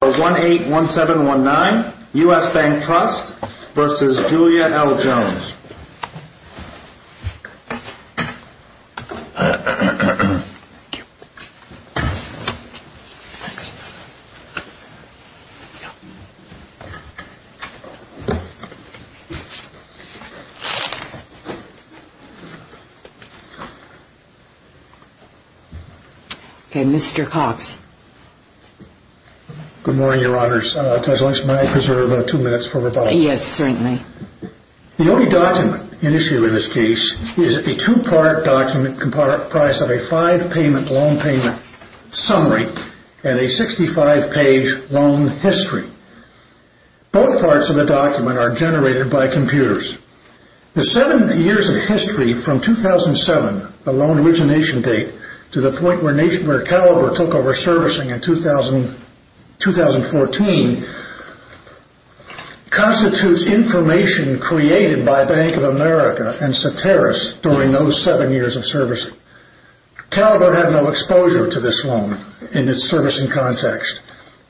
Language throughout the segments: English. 181719, U.S. Bank Trust, versus Julia L. Jones. Thank you. Okay, Mr. Cox. Good morning, Your Honors. Tess, I might reserve two minutes for rebuttal. Yes, certainly. The only document in issue in this case is a two-part document comprised of a five-payment loan payment summary and a 65-page loan history. Both parts of the document are generated by computers. The seven years of history from 2007, the loan origination date, to the point where Caliber took over servicing in 2014, constitutes information created by Bank of America and Soteris during those seven years of servicing. Caliber had no exposure to this loan in its servicing context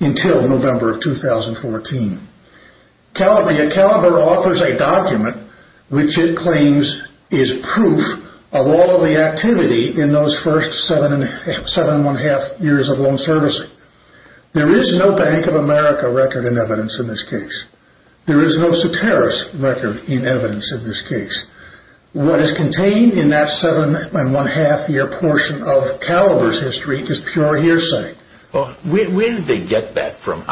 until November of 2014. Caliber offers a document which it claims is proof of all of the activity in those first seven and one-half years of loan servicing. There is no Bank of America record in evidence in this case. There is no Soteris record in evidence in this case. What is contained in that seven and one-half year portion of Caliber's history is pure hearsay. Well, where did they get that from?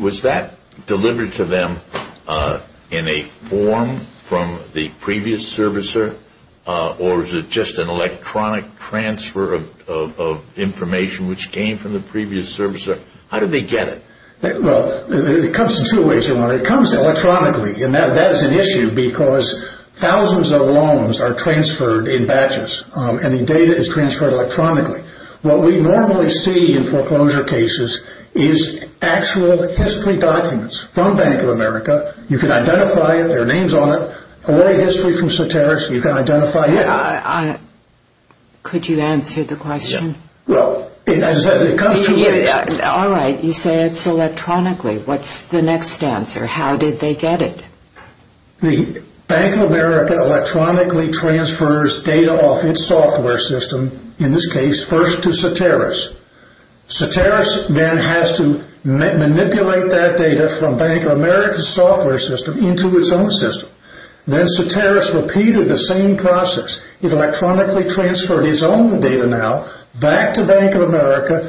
Was that delivered to them in a form from the previous servicer, or was it just an electronic transfer of information which came from the previous servicer? How did they get it? Well, it comes in two ways. It comes electronically, and that is an issue because thousands of loans are transferred in batches, and the data is transferred electronically. What we normally see in foreclosure cases is actual history documents from Bank of America. You can identify it. There are names on it. All the history from Soteris, you can identify it. Could you answer the question? Well, as I said, it comes two ways. All right. You say it's electronically. What's the next answer? How did they get it? The Bank of America electronically transfers data off its software system, in this case, first to Soteris. Soteris then has to manipulate that data from Bank of America's software system into its own system. Then Soteris repeated the same process. It electronically transferred its own data now back to Bank of America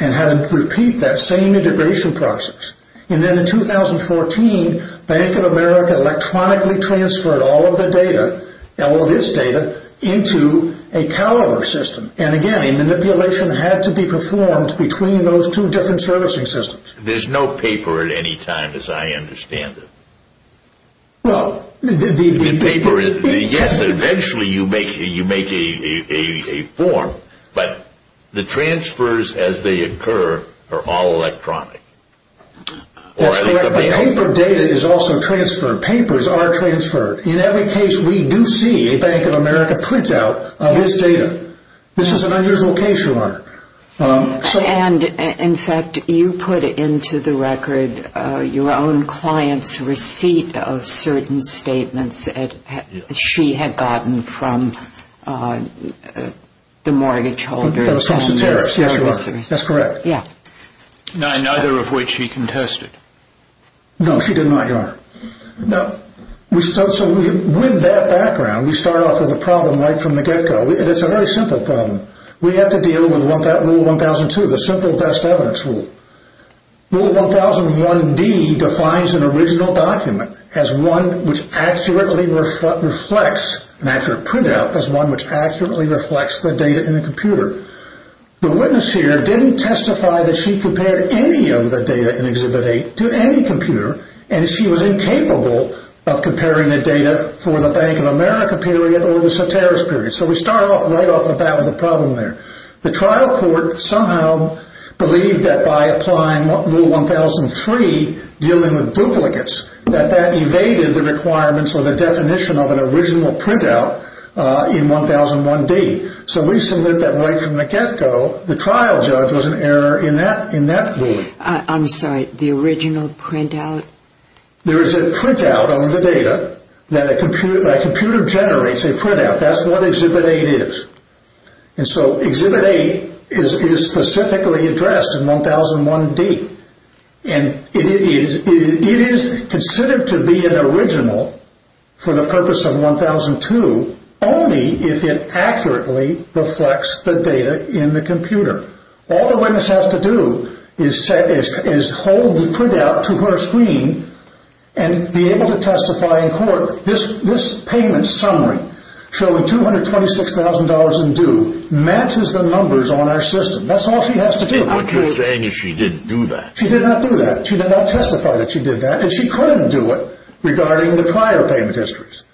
and had to repeat that same integration process. And then in 2014, Bank of America electronically transferred all of the data, all of its data, into a caliber system. And, again, a manipulation had to be performed between those two different servicing systems. There's no paper at any time, as I understand it. Well, the paper is – That's correct. The paper data is also transferred. Papers are transferred. In every case, we do see a Bank of America printout of its data. This is an unusual case, Your Honor. And, in fact, you put into the record your own client's receipt of certain statements that she had gotten from the mortgage holders and the servicers. From Soteris. Yes, Your Honor. That's correct. Neither of which she contested. No, she did not, Your Honor. No. So, with that background, we start off with a problem right from the get-go. And it's a very simple problem. We have to deal with Rule 1002, the simple best evidence rule. Rule 1001D defines an original document as one which accurately reflects an accurate printout as one which accurately reflects the data in the computer. The witness here didn't testify that she compared any of the data in Exhibit A to any computer. And she was incapable of comparing the data for the Bank of America period or the Soteris period. So we start right off the bat with a problem there. The trial court somehow believed that by applying Rule 1003, dealing with duplicates, that that evaded the requirements or the definition of an original printout in 1001D. So Lisa lit that right from the get-go. The trial judge was an error in that ruling. I'm sorry. The original printout? There is a printout on the data that a computer generates a printout. That's what Exhibit A is. And so Exhibit A is specifically addressed in 1001D. And it is considered to be an original for the purpose of 1002 only if it accurately reflects the data in the computer. All the witness has to do is hold the printout to her screen and be able to testify in court. This payment summary showing $226,000 in due matches the numbers on our system. But what you're saying is she didn't do that. She did not do that. She did not testify that she did that, and she couldn't do it regarding the prior payment histories.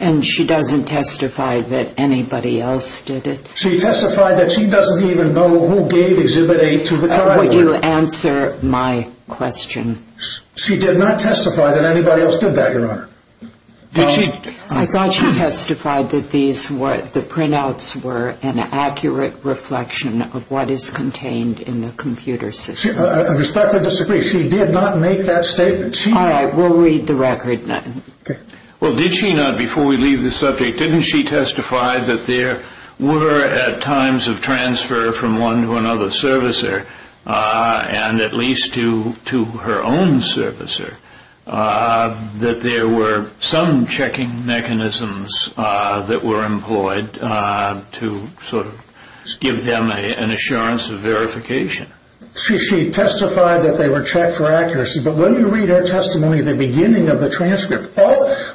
And she doesn't testify that anybody else did it? She testified that she doesn't even know who gave Exhibit A to the trial court. Would you answer my question? She did not testify that anybody else did that, Your Honor. I thought she testified that the printouts were an accurate reflection of what is contained in the computer system. I respectfully disagree. She did not make that statement. All right. We'll read the record then. Okay. Well, did she not, before we leave this subject, didn't she testify that there were at times of transfer from one to another servicer, and at least to her own servicer, that there were some checking mechanisms that were employed to sort of give them an assurance of verification? She testified that they were checked for accuracy. But when you read her testimony at the beginning of the transcript,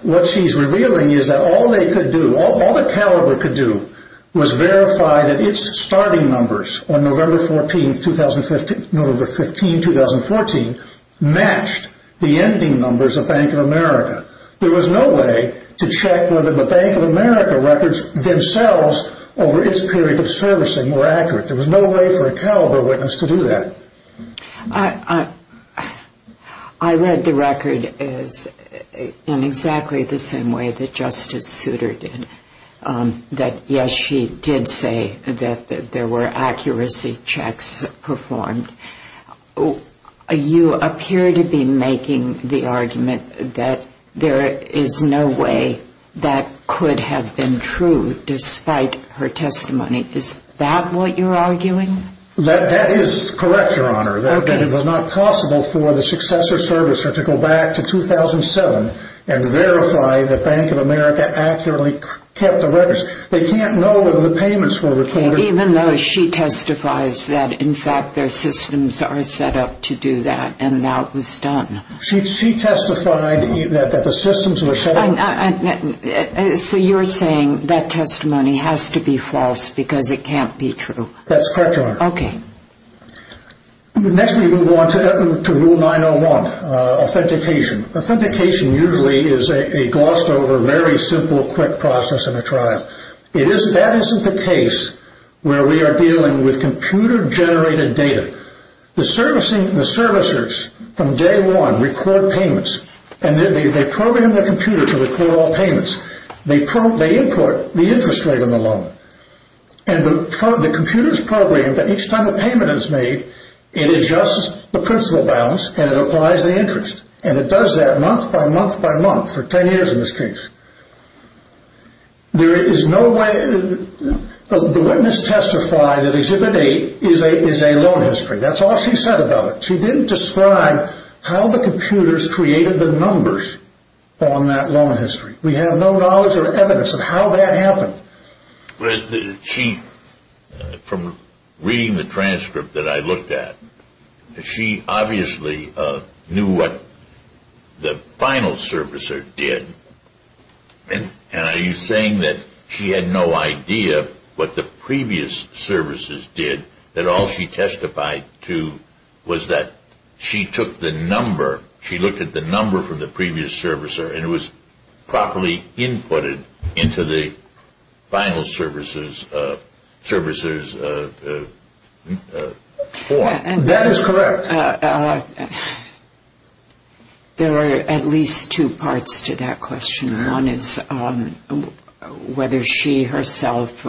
what she's revealing is that all they could do, all that Caliber could do, was verify that its starting numbers on November 15, 2014, matched the ending numbers of Bank of America. There was no way to check whether the Bank of America records themselves over its period of servicing were accurate. There was no way for a Caliber witness to do that. I read the record in exactly the same way that Justice Souter did, that, yes, she did say that there were accuracy checks performed. You appear to be making the argument that there is no way that could have been true despite her testimony. Is that what you're arguing? That is correct, Your Honor, that it was not possible for the successor servicer to go back to 2007 and verify that Bank of America accurately kept the records. They can't know whether the payments were recorded. Even though she testifies that, in fact, their systems are set up to do that, and that was done. She testified that the systems were set up. So you're saying that testimony has to be false because it can't be true. That's correct, Your Honor. Okay. Next we move on to Rule 901, authentication. Authentication usually is a glossed-over, very simple, quick process in a trial. That isn't the case where we are dealing with computer-generated data. The servicers from day one record payments, and they program their computer to record all payments. They import the interest rate on the loan, and the computer is programmed that each time a payment is made, it adjusts the principal balance and it applies the interest. And it does that month by month by month for 10 years in this case. There is no way—the witness testified that Exhibit 8 is a loan history. That's all she said about it. She didn't describe how the computers created the numbers on that loan history. We have no knowledge or evidence of how that happened. She, from reading the transcript that I looked at, she obviously knew what the final servicer did. And are you saying that she had no idea what the previous servicers did, that all she testified to was that she took the number, she looked at the number from the previous servicer, and it was properly inputted into the final servicer's form? That is correct. There are at least two parts to that question. One is whether she herself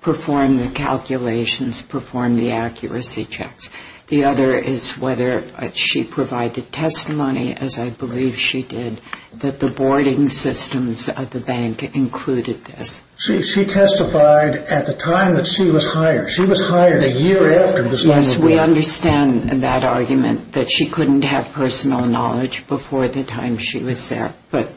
performed the calculations, performed the accuracy checks. The other is whether she provided testimony, as I believe she did, that the boarding systems of the bank included this. She testified at the time that she was hired. She was hired a year after this incident. Yes, we understand that argument, that she couldn't have personal knowledge before the time she was there. But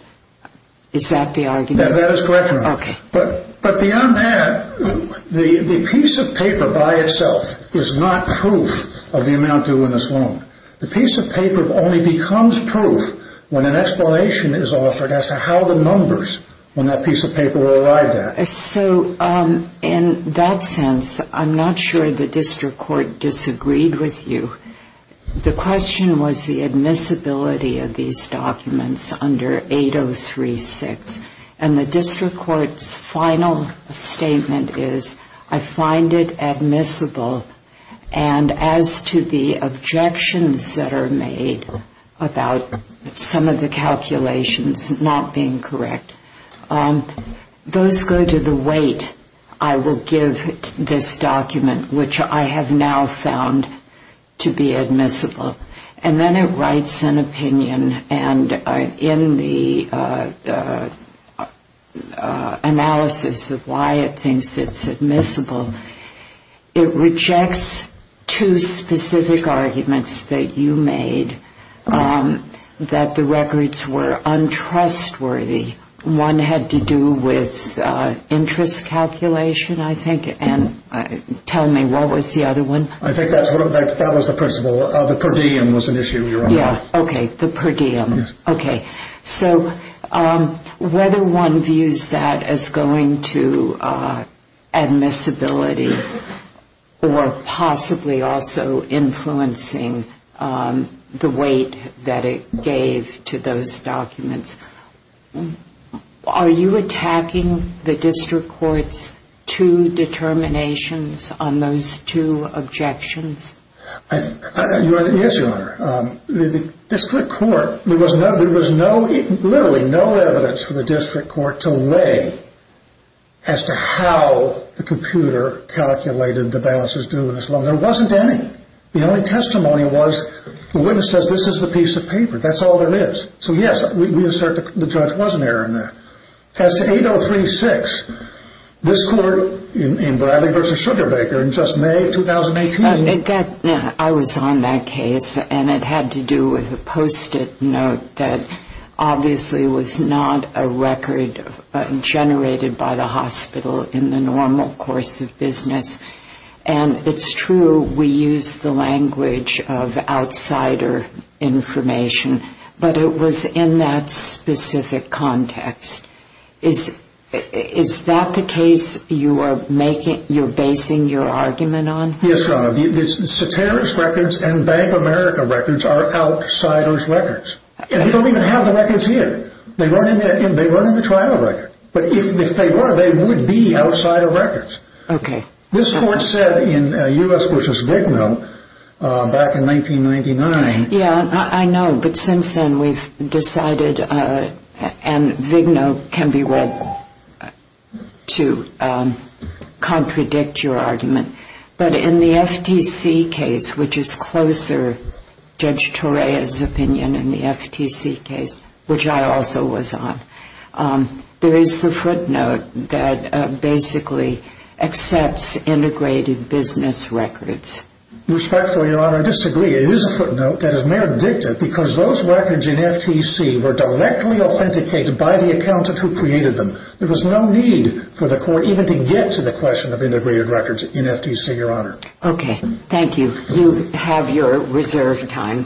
is that the argument? That is correct, ma'am. Okay. But beyond that, the piece of paper by itself is not proof of the amount due in this loan. The piece of paper only becomes proof when an explanation is offered as to how the numbers on that piece of paper were arrived at. So in that sense, I'm not sure the district court disagreed with you. The question was the admissibility of these documents under 8036. And the district court's final statement is, I find it admissible and as to the objections that are made about some of the calculations not being correct, those go to the weight I will give this document, which I have now found to be admissible. And then it writes an opinion. And in the analysis of why it thinks it's admissible, it rejects two specific arguments that you made that the records were untrustworthy. One had to do with interest calculation, I think. And tell me, what was the other one? I think that was the principle. The per diem was an issue you're on. Okay, the per diem. Yes. Okay. So whether one views that as going to admissibility or possibly also influencing the weight that it gave to those documents, are you attacking the district court's two determinations on those two objections? Yes, Your Honor. The district court, there was literally no evidence for the district court to weigh as to how the computer calculated the balances due in this loan. There wasn't any. The only testimony was the witness says this is the piece of paper. That's all there is. So, yes, the judge was an error in that. As to 8036, this court in Bradley v. Sugarbaker in just May of 2018. I was on that case, and it had to do with a Post-it note that obviously was not a record generated by the hospital in the normal course of business. And it's true we use the language of outsider information, but it was in that specific context. Is that the case you're basing your argument on? Yes, Your Honor. The Ceteris records and Bank America records are outsiders' records. And we don't even have the records here. They weren't in the trial record. But if they were, they would be outsider records. Okay. This court said in U.S. v. Vigna back in 1999. Yeah, I know. But since then, we've decided, and Vigna can be read to contradict your argument. But in the FTC case, which is closer Judge Torea's opinion in the FTC case, which I also was on, there is a footnote that basically accepts integrated business records. Respectfully, Your Honor, I disagree. It is a footnote that is meredictive because those records in FTC were directly authenticated by the accountant who created them. There was no need for the court even to get to the question of integrated records in FTC, Your Honor. Okay. Thank you. You have your reserved time.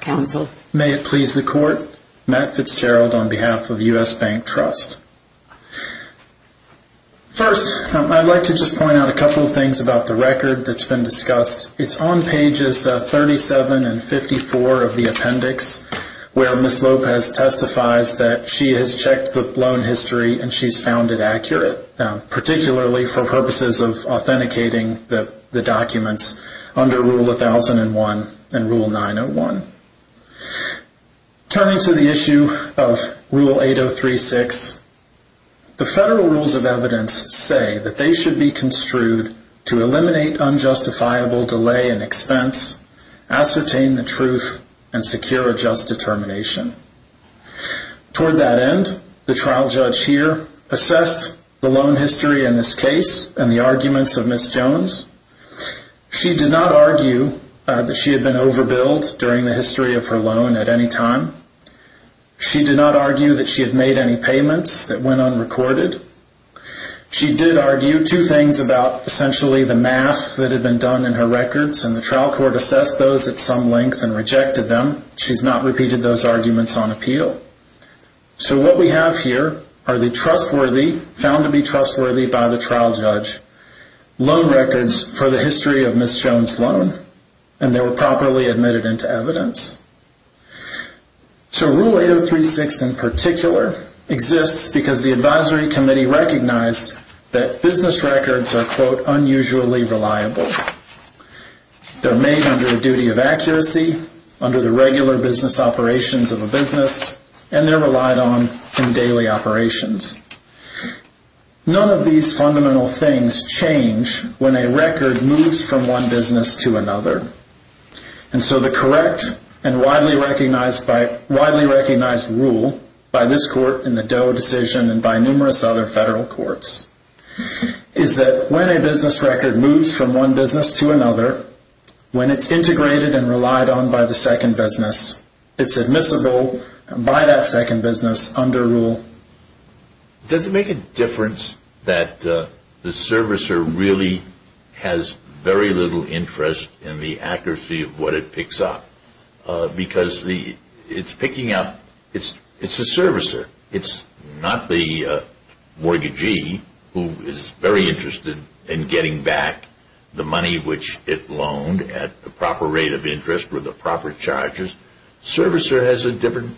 Counsel. May it please the court, Matt Fitzgerald on behalf of U.S. Bank Trust. First, I'd like to just point out a couple of things about the record that's been discussed. It's on pages 37 and 54 of the appendix where Ms. Lopez testifies that she has checked the loan history and she's found it accurate, particularly for purposes of authenticating the documents under Rule 1001 and Rule 901. Turning to the issue of Rule 8036, the federal rules of evidence say that they should be construed to eliminate unjustifiable delay and expense, ascertain the truth, and secure a just determination. Toward that end, the trial judge here assessed the loan history in this case and the arguments of Ms. Jones. She did not argue that she had been overbilled during the history of her loan at any time. She did not argue that she had made any payments that went unrecorded. She did argue two things about essentially the math that had been done in her records, and the trial court assessed those at some length and rejected them. She's not repeated those arguments on appeal. So what we have here are the trustworthy, found to be trustworthy by the trial judge, loan records for the history of Ms. Jones' loan, and they were properly admitted into evidence. So Rule 8036 in particular exists because the advisory committee recognized that business records are quote, unusually reliable. They're made under a duty of accuracy, under the regular business operations of a business, and they're relied on in daily operations. None of these fundamental things change when a record moves from one business to another. And so the correct and widely recognized rule by this court in the Doe decision and by numerous other federal courts is that when a business record moves from one business to another, when it's integrated and relied on by the second business, it's admissible by that second business under rule. Does it make a difference that the servicer really has very little interest in the accuracy of what it picks up? Because it's picking up, it's a servicer. It's not the mortgagee who is very interested in getting back the money which it loaned at the proper rate of interest or the proper charges. Servicer has a different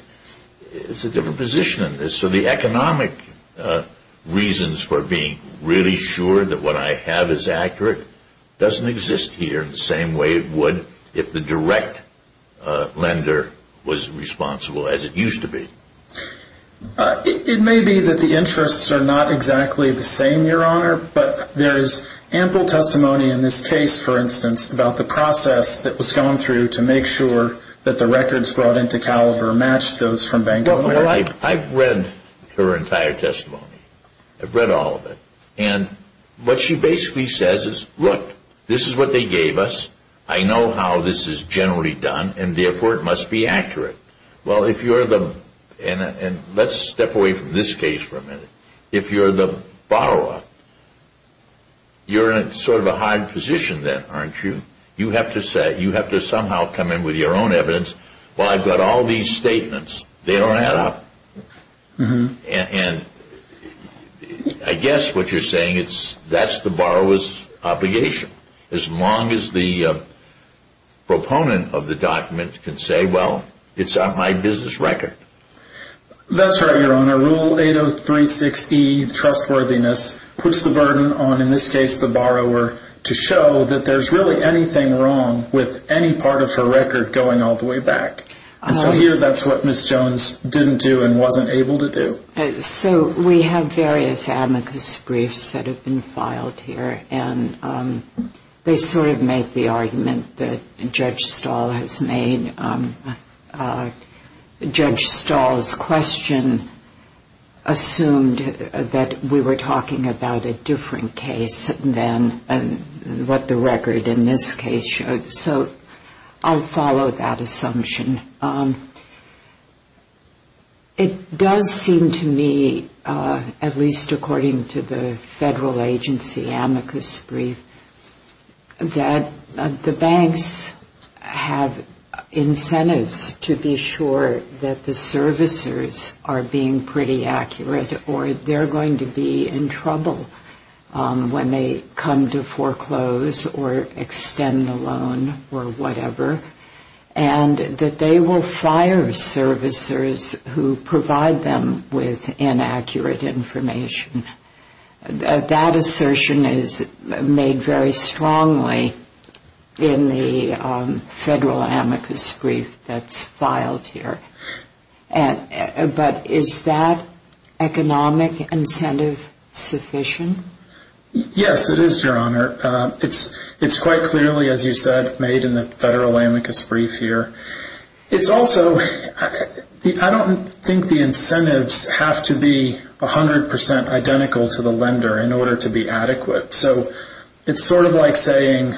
position in this. So the economic reasons for being really sure that what I have is accurate doesn't exist here in the same way it would if the direct lender was responsible as it used to be. It may be that the interests are not exactly the same, Your Honor, but there is ample testimony in this case, for instance, about the process that was going through to make sure that the records brought into Caliber matched those from Bank of America. Well, I've read her entire testimony. I've read all of it. And what she basically says is, look, this is what they gave us. I know how this is generally done, and therefore it must be accurate. Well, if you're the – and let's step away from this case for a minute. If you're the borrower, you're in sort of a hard position then, aren't you? You have to say – you have to somehow come in with your own evidence. Well, I've got all these statements. They don't add up. And I guess what you're saying is that's the borrower's obligation, as long as the proponent of the document can say, well, it's on my business record. That's right, Your Honor. Rule 8036E, trustworthiness, puts the burden on, in this case, the borrower to show that there's really anything wrong with any part of her record going all the way back. And so here that's what Ms. Jones didn't do and wasn't able to do. So we have various amicus briefs that have been filed here, and they sort of make the argument that Judge Stahl has made – Judge Stahl's question assumed that we were talking about a different case than what the record in this case showed. So I'll follow that assumption. It does seem to me, at least according to the federal agency amicus brief, that the banks have incentives to be sure that the servicers are being pretty accurate or they're going to be in trouble when they come to foreclose or extend the loan or whatever, and that they will fire servicers who provide them with inaccurate information. That assertion is made very strongly in the federal amicus brief that's filed here. But is that economic incentive sufficient? Yes, it is, Your Honor. It's quite clearly, as you said, made in the federal amicus brief here. It's also – I don't think the incentives have to be 100 percent identical to the lender in order to be adequate. So it's sort of like saying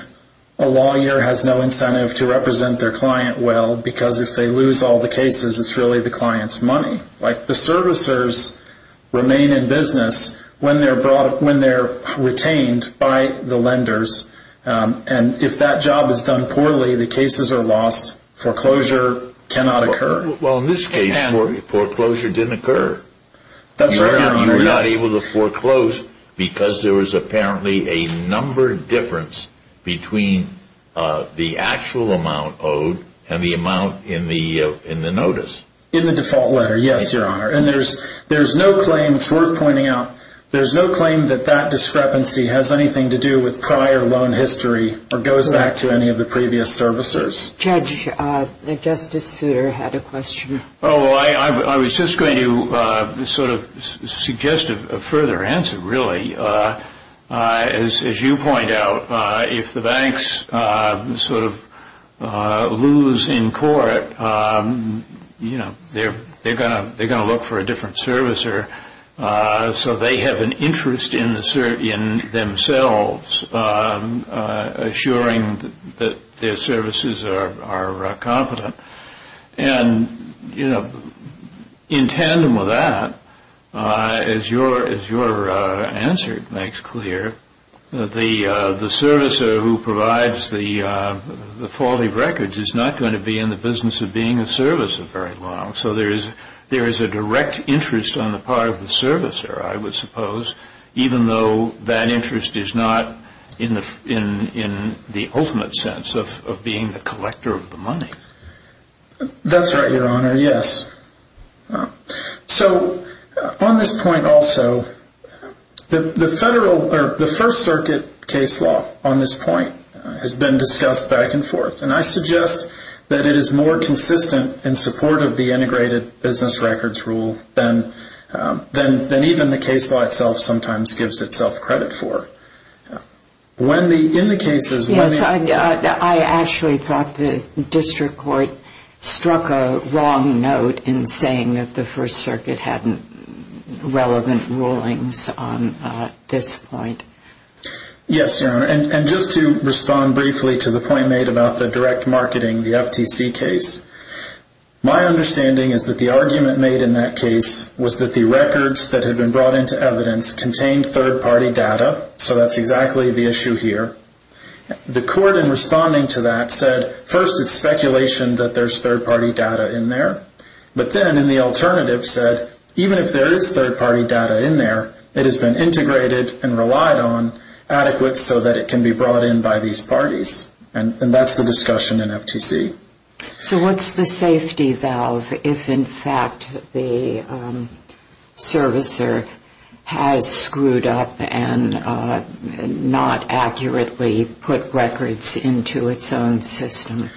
a lawyer has no incentive to represent their client well because if they lose all the cases, it's really the client's money. Like the servicers remain in business when they're retained by the lenders, and if that job is done poorly, the cases are lost, foreclosure cannot occur. Well, in this case, foreclosure didn't occur. That's right, Your Honor. You were not able to foreclose because there was apparently a numbered difference between the actual amount owed and the amount in the notice. In the default letter, yes, Your Honor. And there's no claim – it's worth pointing out – there's no claim that that discrepancy has anything to do with prior loan history or goes back to any of the previous servicers. Judge, Justice Souter had a question. Oh, I was just going to sort of suggest a further answer, really. As you point out, if the banks sort of lose in court, you know, they're going to look for a different servicer so they have an interest in themselves assuring that their services are competent. And, you know, in tandem with that, as your answer makes clear, the servicer who provides the faulty records is not going to be in the business of being a servicer very long. So there is a direct interest on the part of the servicer, I would suppose, even though that interest is not in the ultimate sense of being the collector of the money. That's right, Your Honor, yes. So on this point also, the first circuit case law on this point has been discussed back and forth. And I suggest that it is more consistent in support of the integrated business records rule than even the case law itself sometimes gives itself credit for. When the – in the cases – Yes, I actually thought the district court struck a wrong note in saying that the first circuit had relevant rulings on this point. Yes, Your Honor. And just to respond briefly to the point made about the direct marketing, the FTC case, my understanding is that the argument made in that case was that the records that had been brought into evidence contained third-party data. So that's exactly the issue here. The court in responding to that said, first, it's speculation that there's third-party data in there. But then in the alternative said, even if there is third-party data in there, it has been integrated and relied on adequate so that it can be brought in by these parties. And that's the discussion in FTC. So what's the safety valve if, in fact, the servicer has screwed up and not accurately put records into its own system?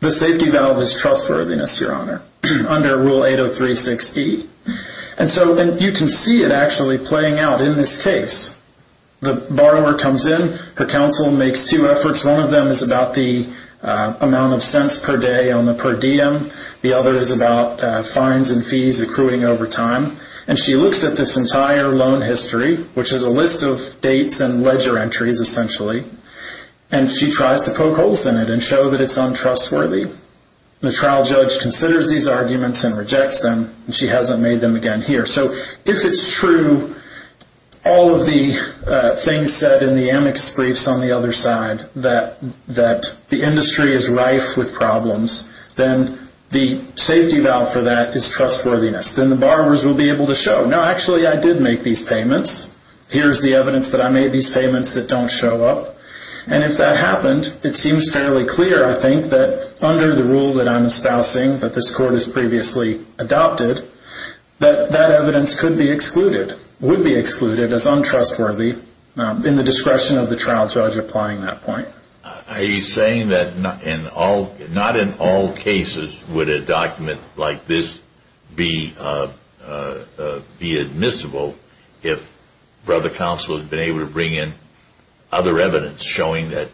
The safety valve is trustworthiness, Your Honor, under Rule 8036E. And so – and you can see it actually playing out in this case. The borrower comes in. Her counsel makes two efforts. One of them is about the amount of cents per day on the per diem. The other is about fines and fees accruing over time. And she looks at this entire loan history, which is a list of dates and ledger entries, essentially, and she tries to poke holes in it and show that it's untrustworthy. The trial judge considers these arguments and rejects them, and she hasn't made them again here. So if it's true all of the things said in the amicus briefs on the other side, that the industry is rife with problems, then the safety valve for that is trustworthiness. Then the borrowers will be able to show, no, actually, I did make these payments. Here's the evidence that I made these payments that don't show up. And if that happened, it seems fairly clear, I think, that under the rule that I'm espousing, that this court has previously adopted, that that evidence could be excluded, would be excluded as untrustworthy in the discretion of the trial judge applying that point. Are you saying that not in all cases would a document like this be admissible if brother counsel had been able to bring in other evidence showing that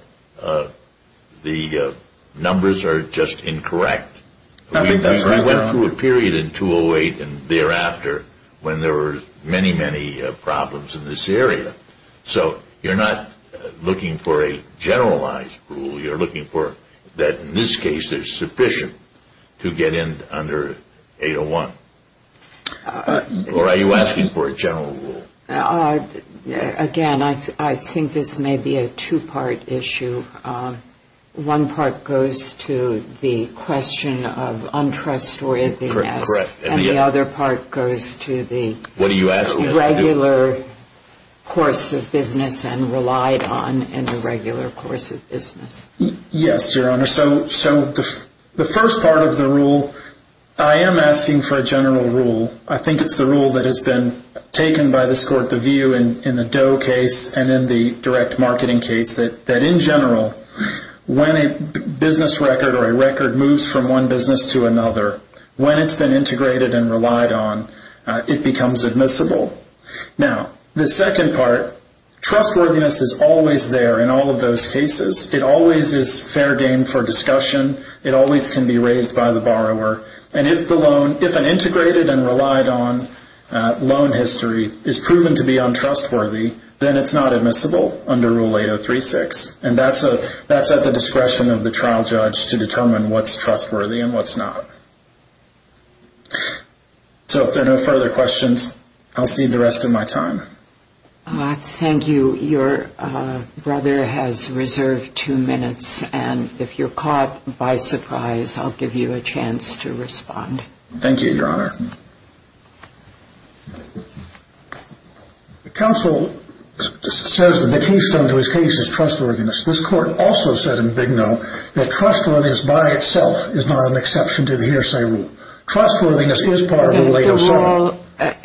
the numbers are just incorrect? We went through a period in 208 and thereafter when there were many, many problems in this area. So you're not looking for a generalized rule. You're looking for that in this case there's sufficient to get in under 801. Or are you asking for a general rule? Again, I think this may be a two-part issue. One part goes to the question of untrustworthiness. Correct. And the other part goes to the regular course of business and relied on in the regular course of business. Yes, Your Honor. So the first part of the rule, I am asking for a general rule. I think it's the rule that has been taken by this court, the view in the Doe case and in the direct marketing case, that in general when a business record or a record moves from one business to another, when it's been integrated and relied on, it becomes admissible. Now, the second part, trustworthiness is always there in all of those cases. It always is fair game for discussion. It always can be raised by the borrower. And if an integrated and relied on loan history is proven to be untrustworthy, then it's not admissible under Rule 8036. And that's at the discretion of the trial judge to determine what's trustworthy and what's not. So if there are no further questions, I'll cede the rest of my time. Thank you. Your brother has reserved two minutes, and if you're caught by surprise, I'll give you a chance to respond. Thank you, Your Honor. The counsel says that the keystone to his case is trustworthiness. This court also said in Big No that trustworthiness by itself is not an exception to the hearsay rule. Trustworthiness is part of Rule 807.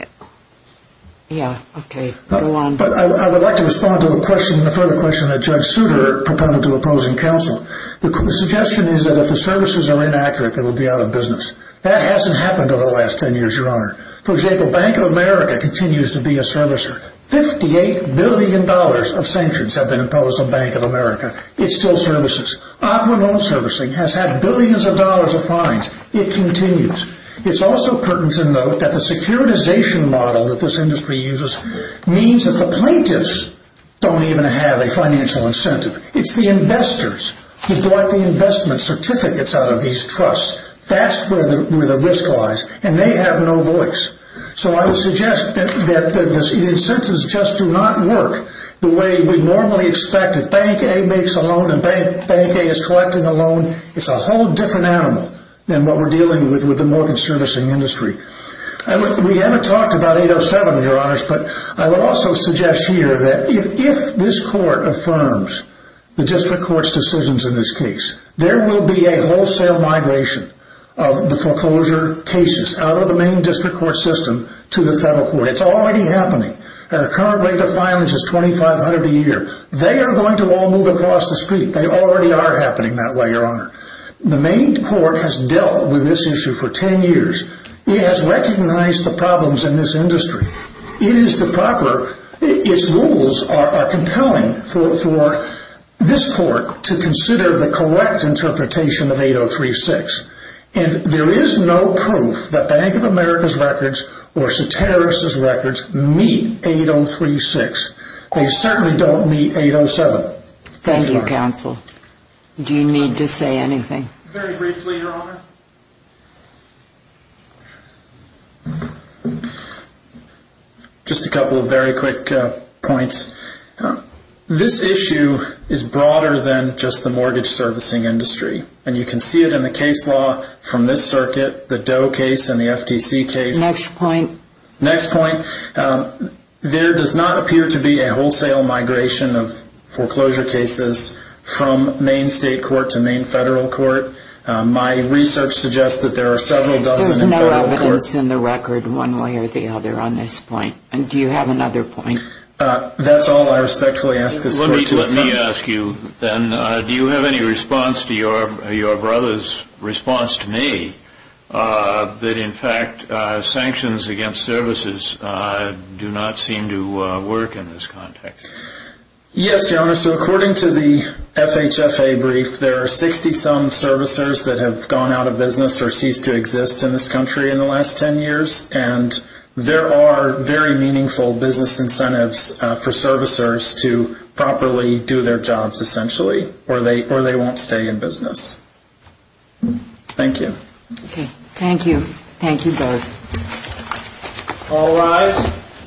Yeah, okay, go on. But I would like to respond to a question, a further question that Judge Souter proposed to opposing counsel. The suggestion is that if the services are inaccurate, they will be out of business. That hasn't happened over the last ten years, Your Honor. For example, Bank of America continues to be a servicer. Fifty-eight billion dollars of sanctions have been imposed on Bank of America. It still services. Aquinole Servicing has had billions of dollars of fines. It continues. It's also pertinent to note that the securitization model that this industry uses means that the plaintiffs don't even have a financial incentive. It's the investors who brought the investment certificates out of these trusts. That's where the risk lies, and they have no voice. So I would suggest that the incentives just do not work the way we normally expect. If Bank A makes a loan and Bank A is collecting a loan, it's a whole different animal than what we're dealing with with the mortgage servicing industry. We haven't talked about 807, Your Honors, but I would also suggest here that if this court affirms the district court's decisions in this case, there will be a wholesale migration of the foreclosure cases out of the main district court system to the federal court. It's already happening. The current rate of filings is $2,500 a year. They are going to all move across the street. They already are happening that way, Your Honor. The main court has dealt with this issue for 10 years. It has recognized the problems in this industry. It is the proper – its rules are compelling for this court to consider the correct interpretation of 803-6. And there is no proof that Bank of America's records or Soteris's records meet 803-6. They certainly don't meet 807. Thank you, counsel. Do you need to say anything? Very briefly, Your Honor. Just a couple of very quick points. This issue is broader than just the mortgage servicing industry. And you can see it in the case law from this circuit, the Doe case and the FTC case. Next point. Next point. There does not appear to be a wholesale migration of foreclosure cases from main state court to main federal court. My research suggests that there are several dozen in federal court. There's no evidence in the record one way or the other on this point. Do you have another point? That's all I respectfully ask this court to affirm. Let me ask you then, do you have any response to your brother's response to me that in fact sanctions against services do not seem to work in this context? Yes, Your Honor. So according to the FHFA brief, there are 60-some servicers that have gone out of business or ceased to exist in this country in the last 10 years. And there are very meaningful business incentives for servicers to properly do their jobs essentially or they won't stay in business. Thank you. Okay. Thank you. Thank you both. All rise.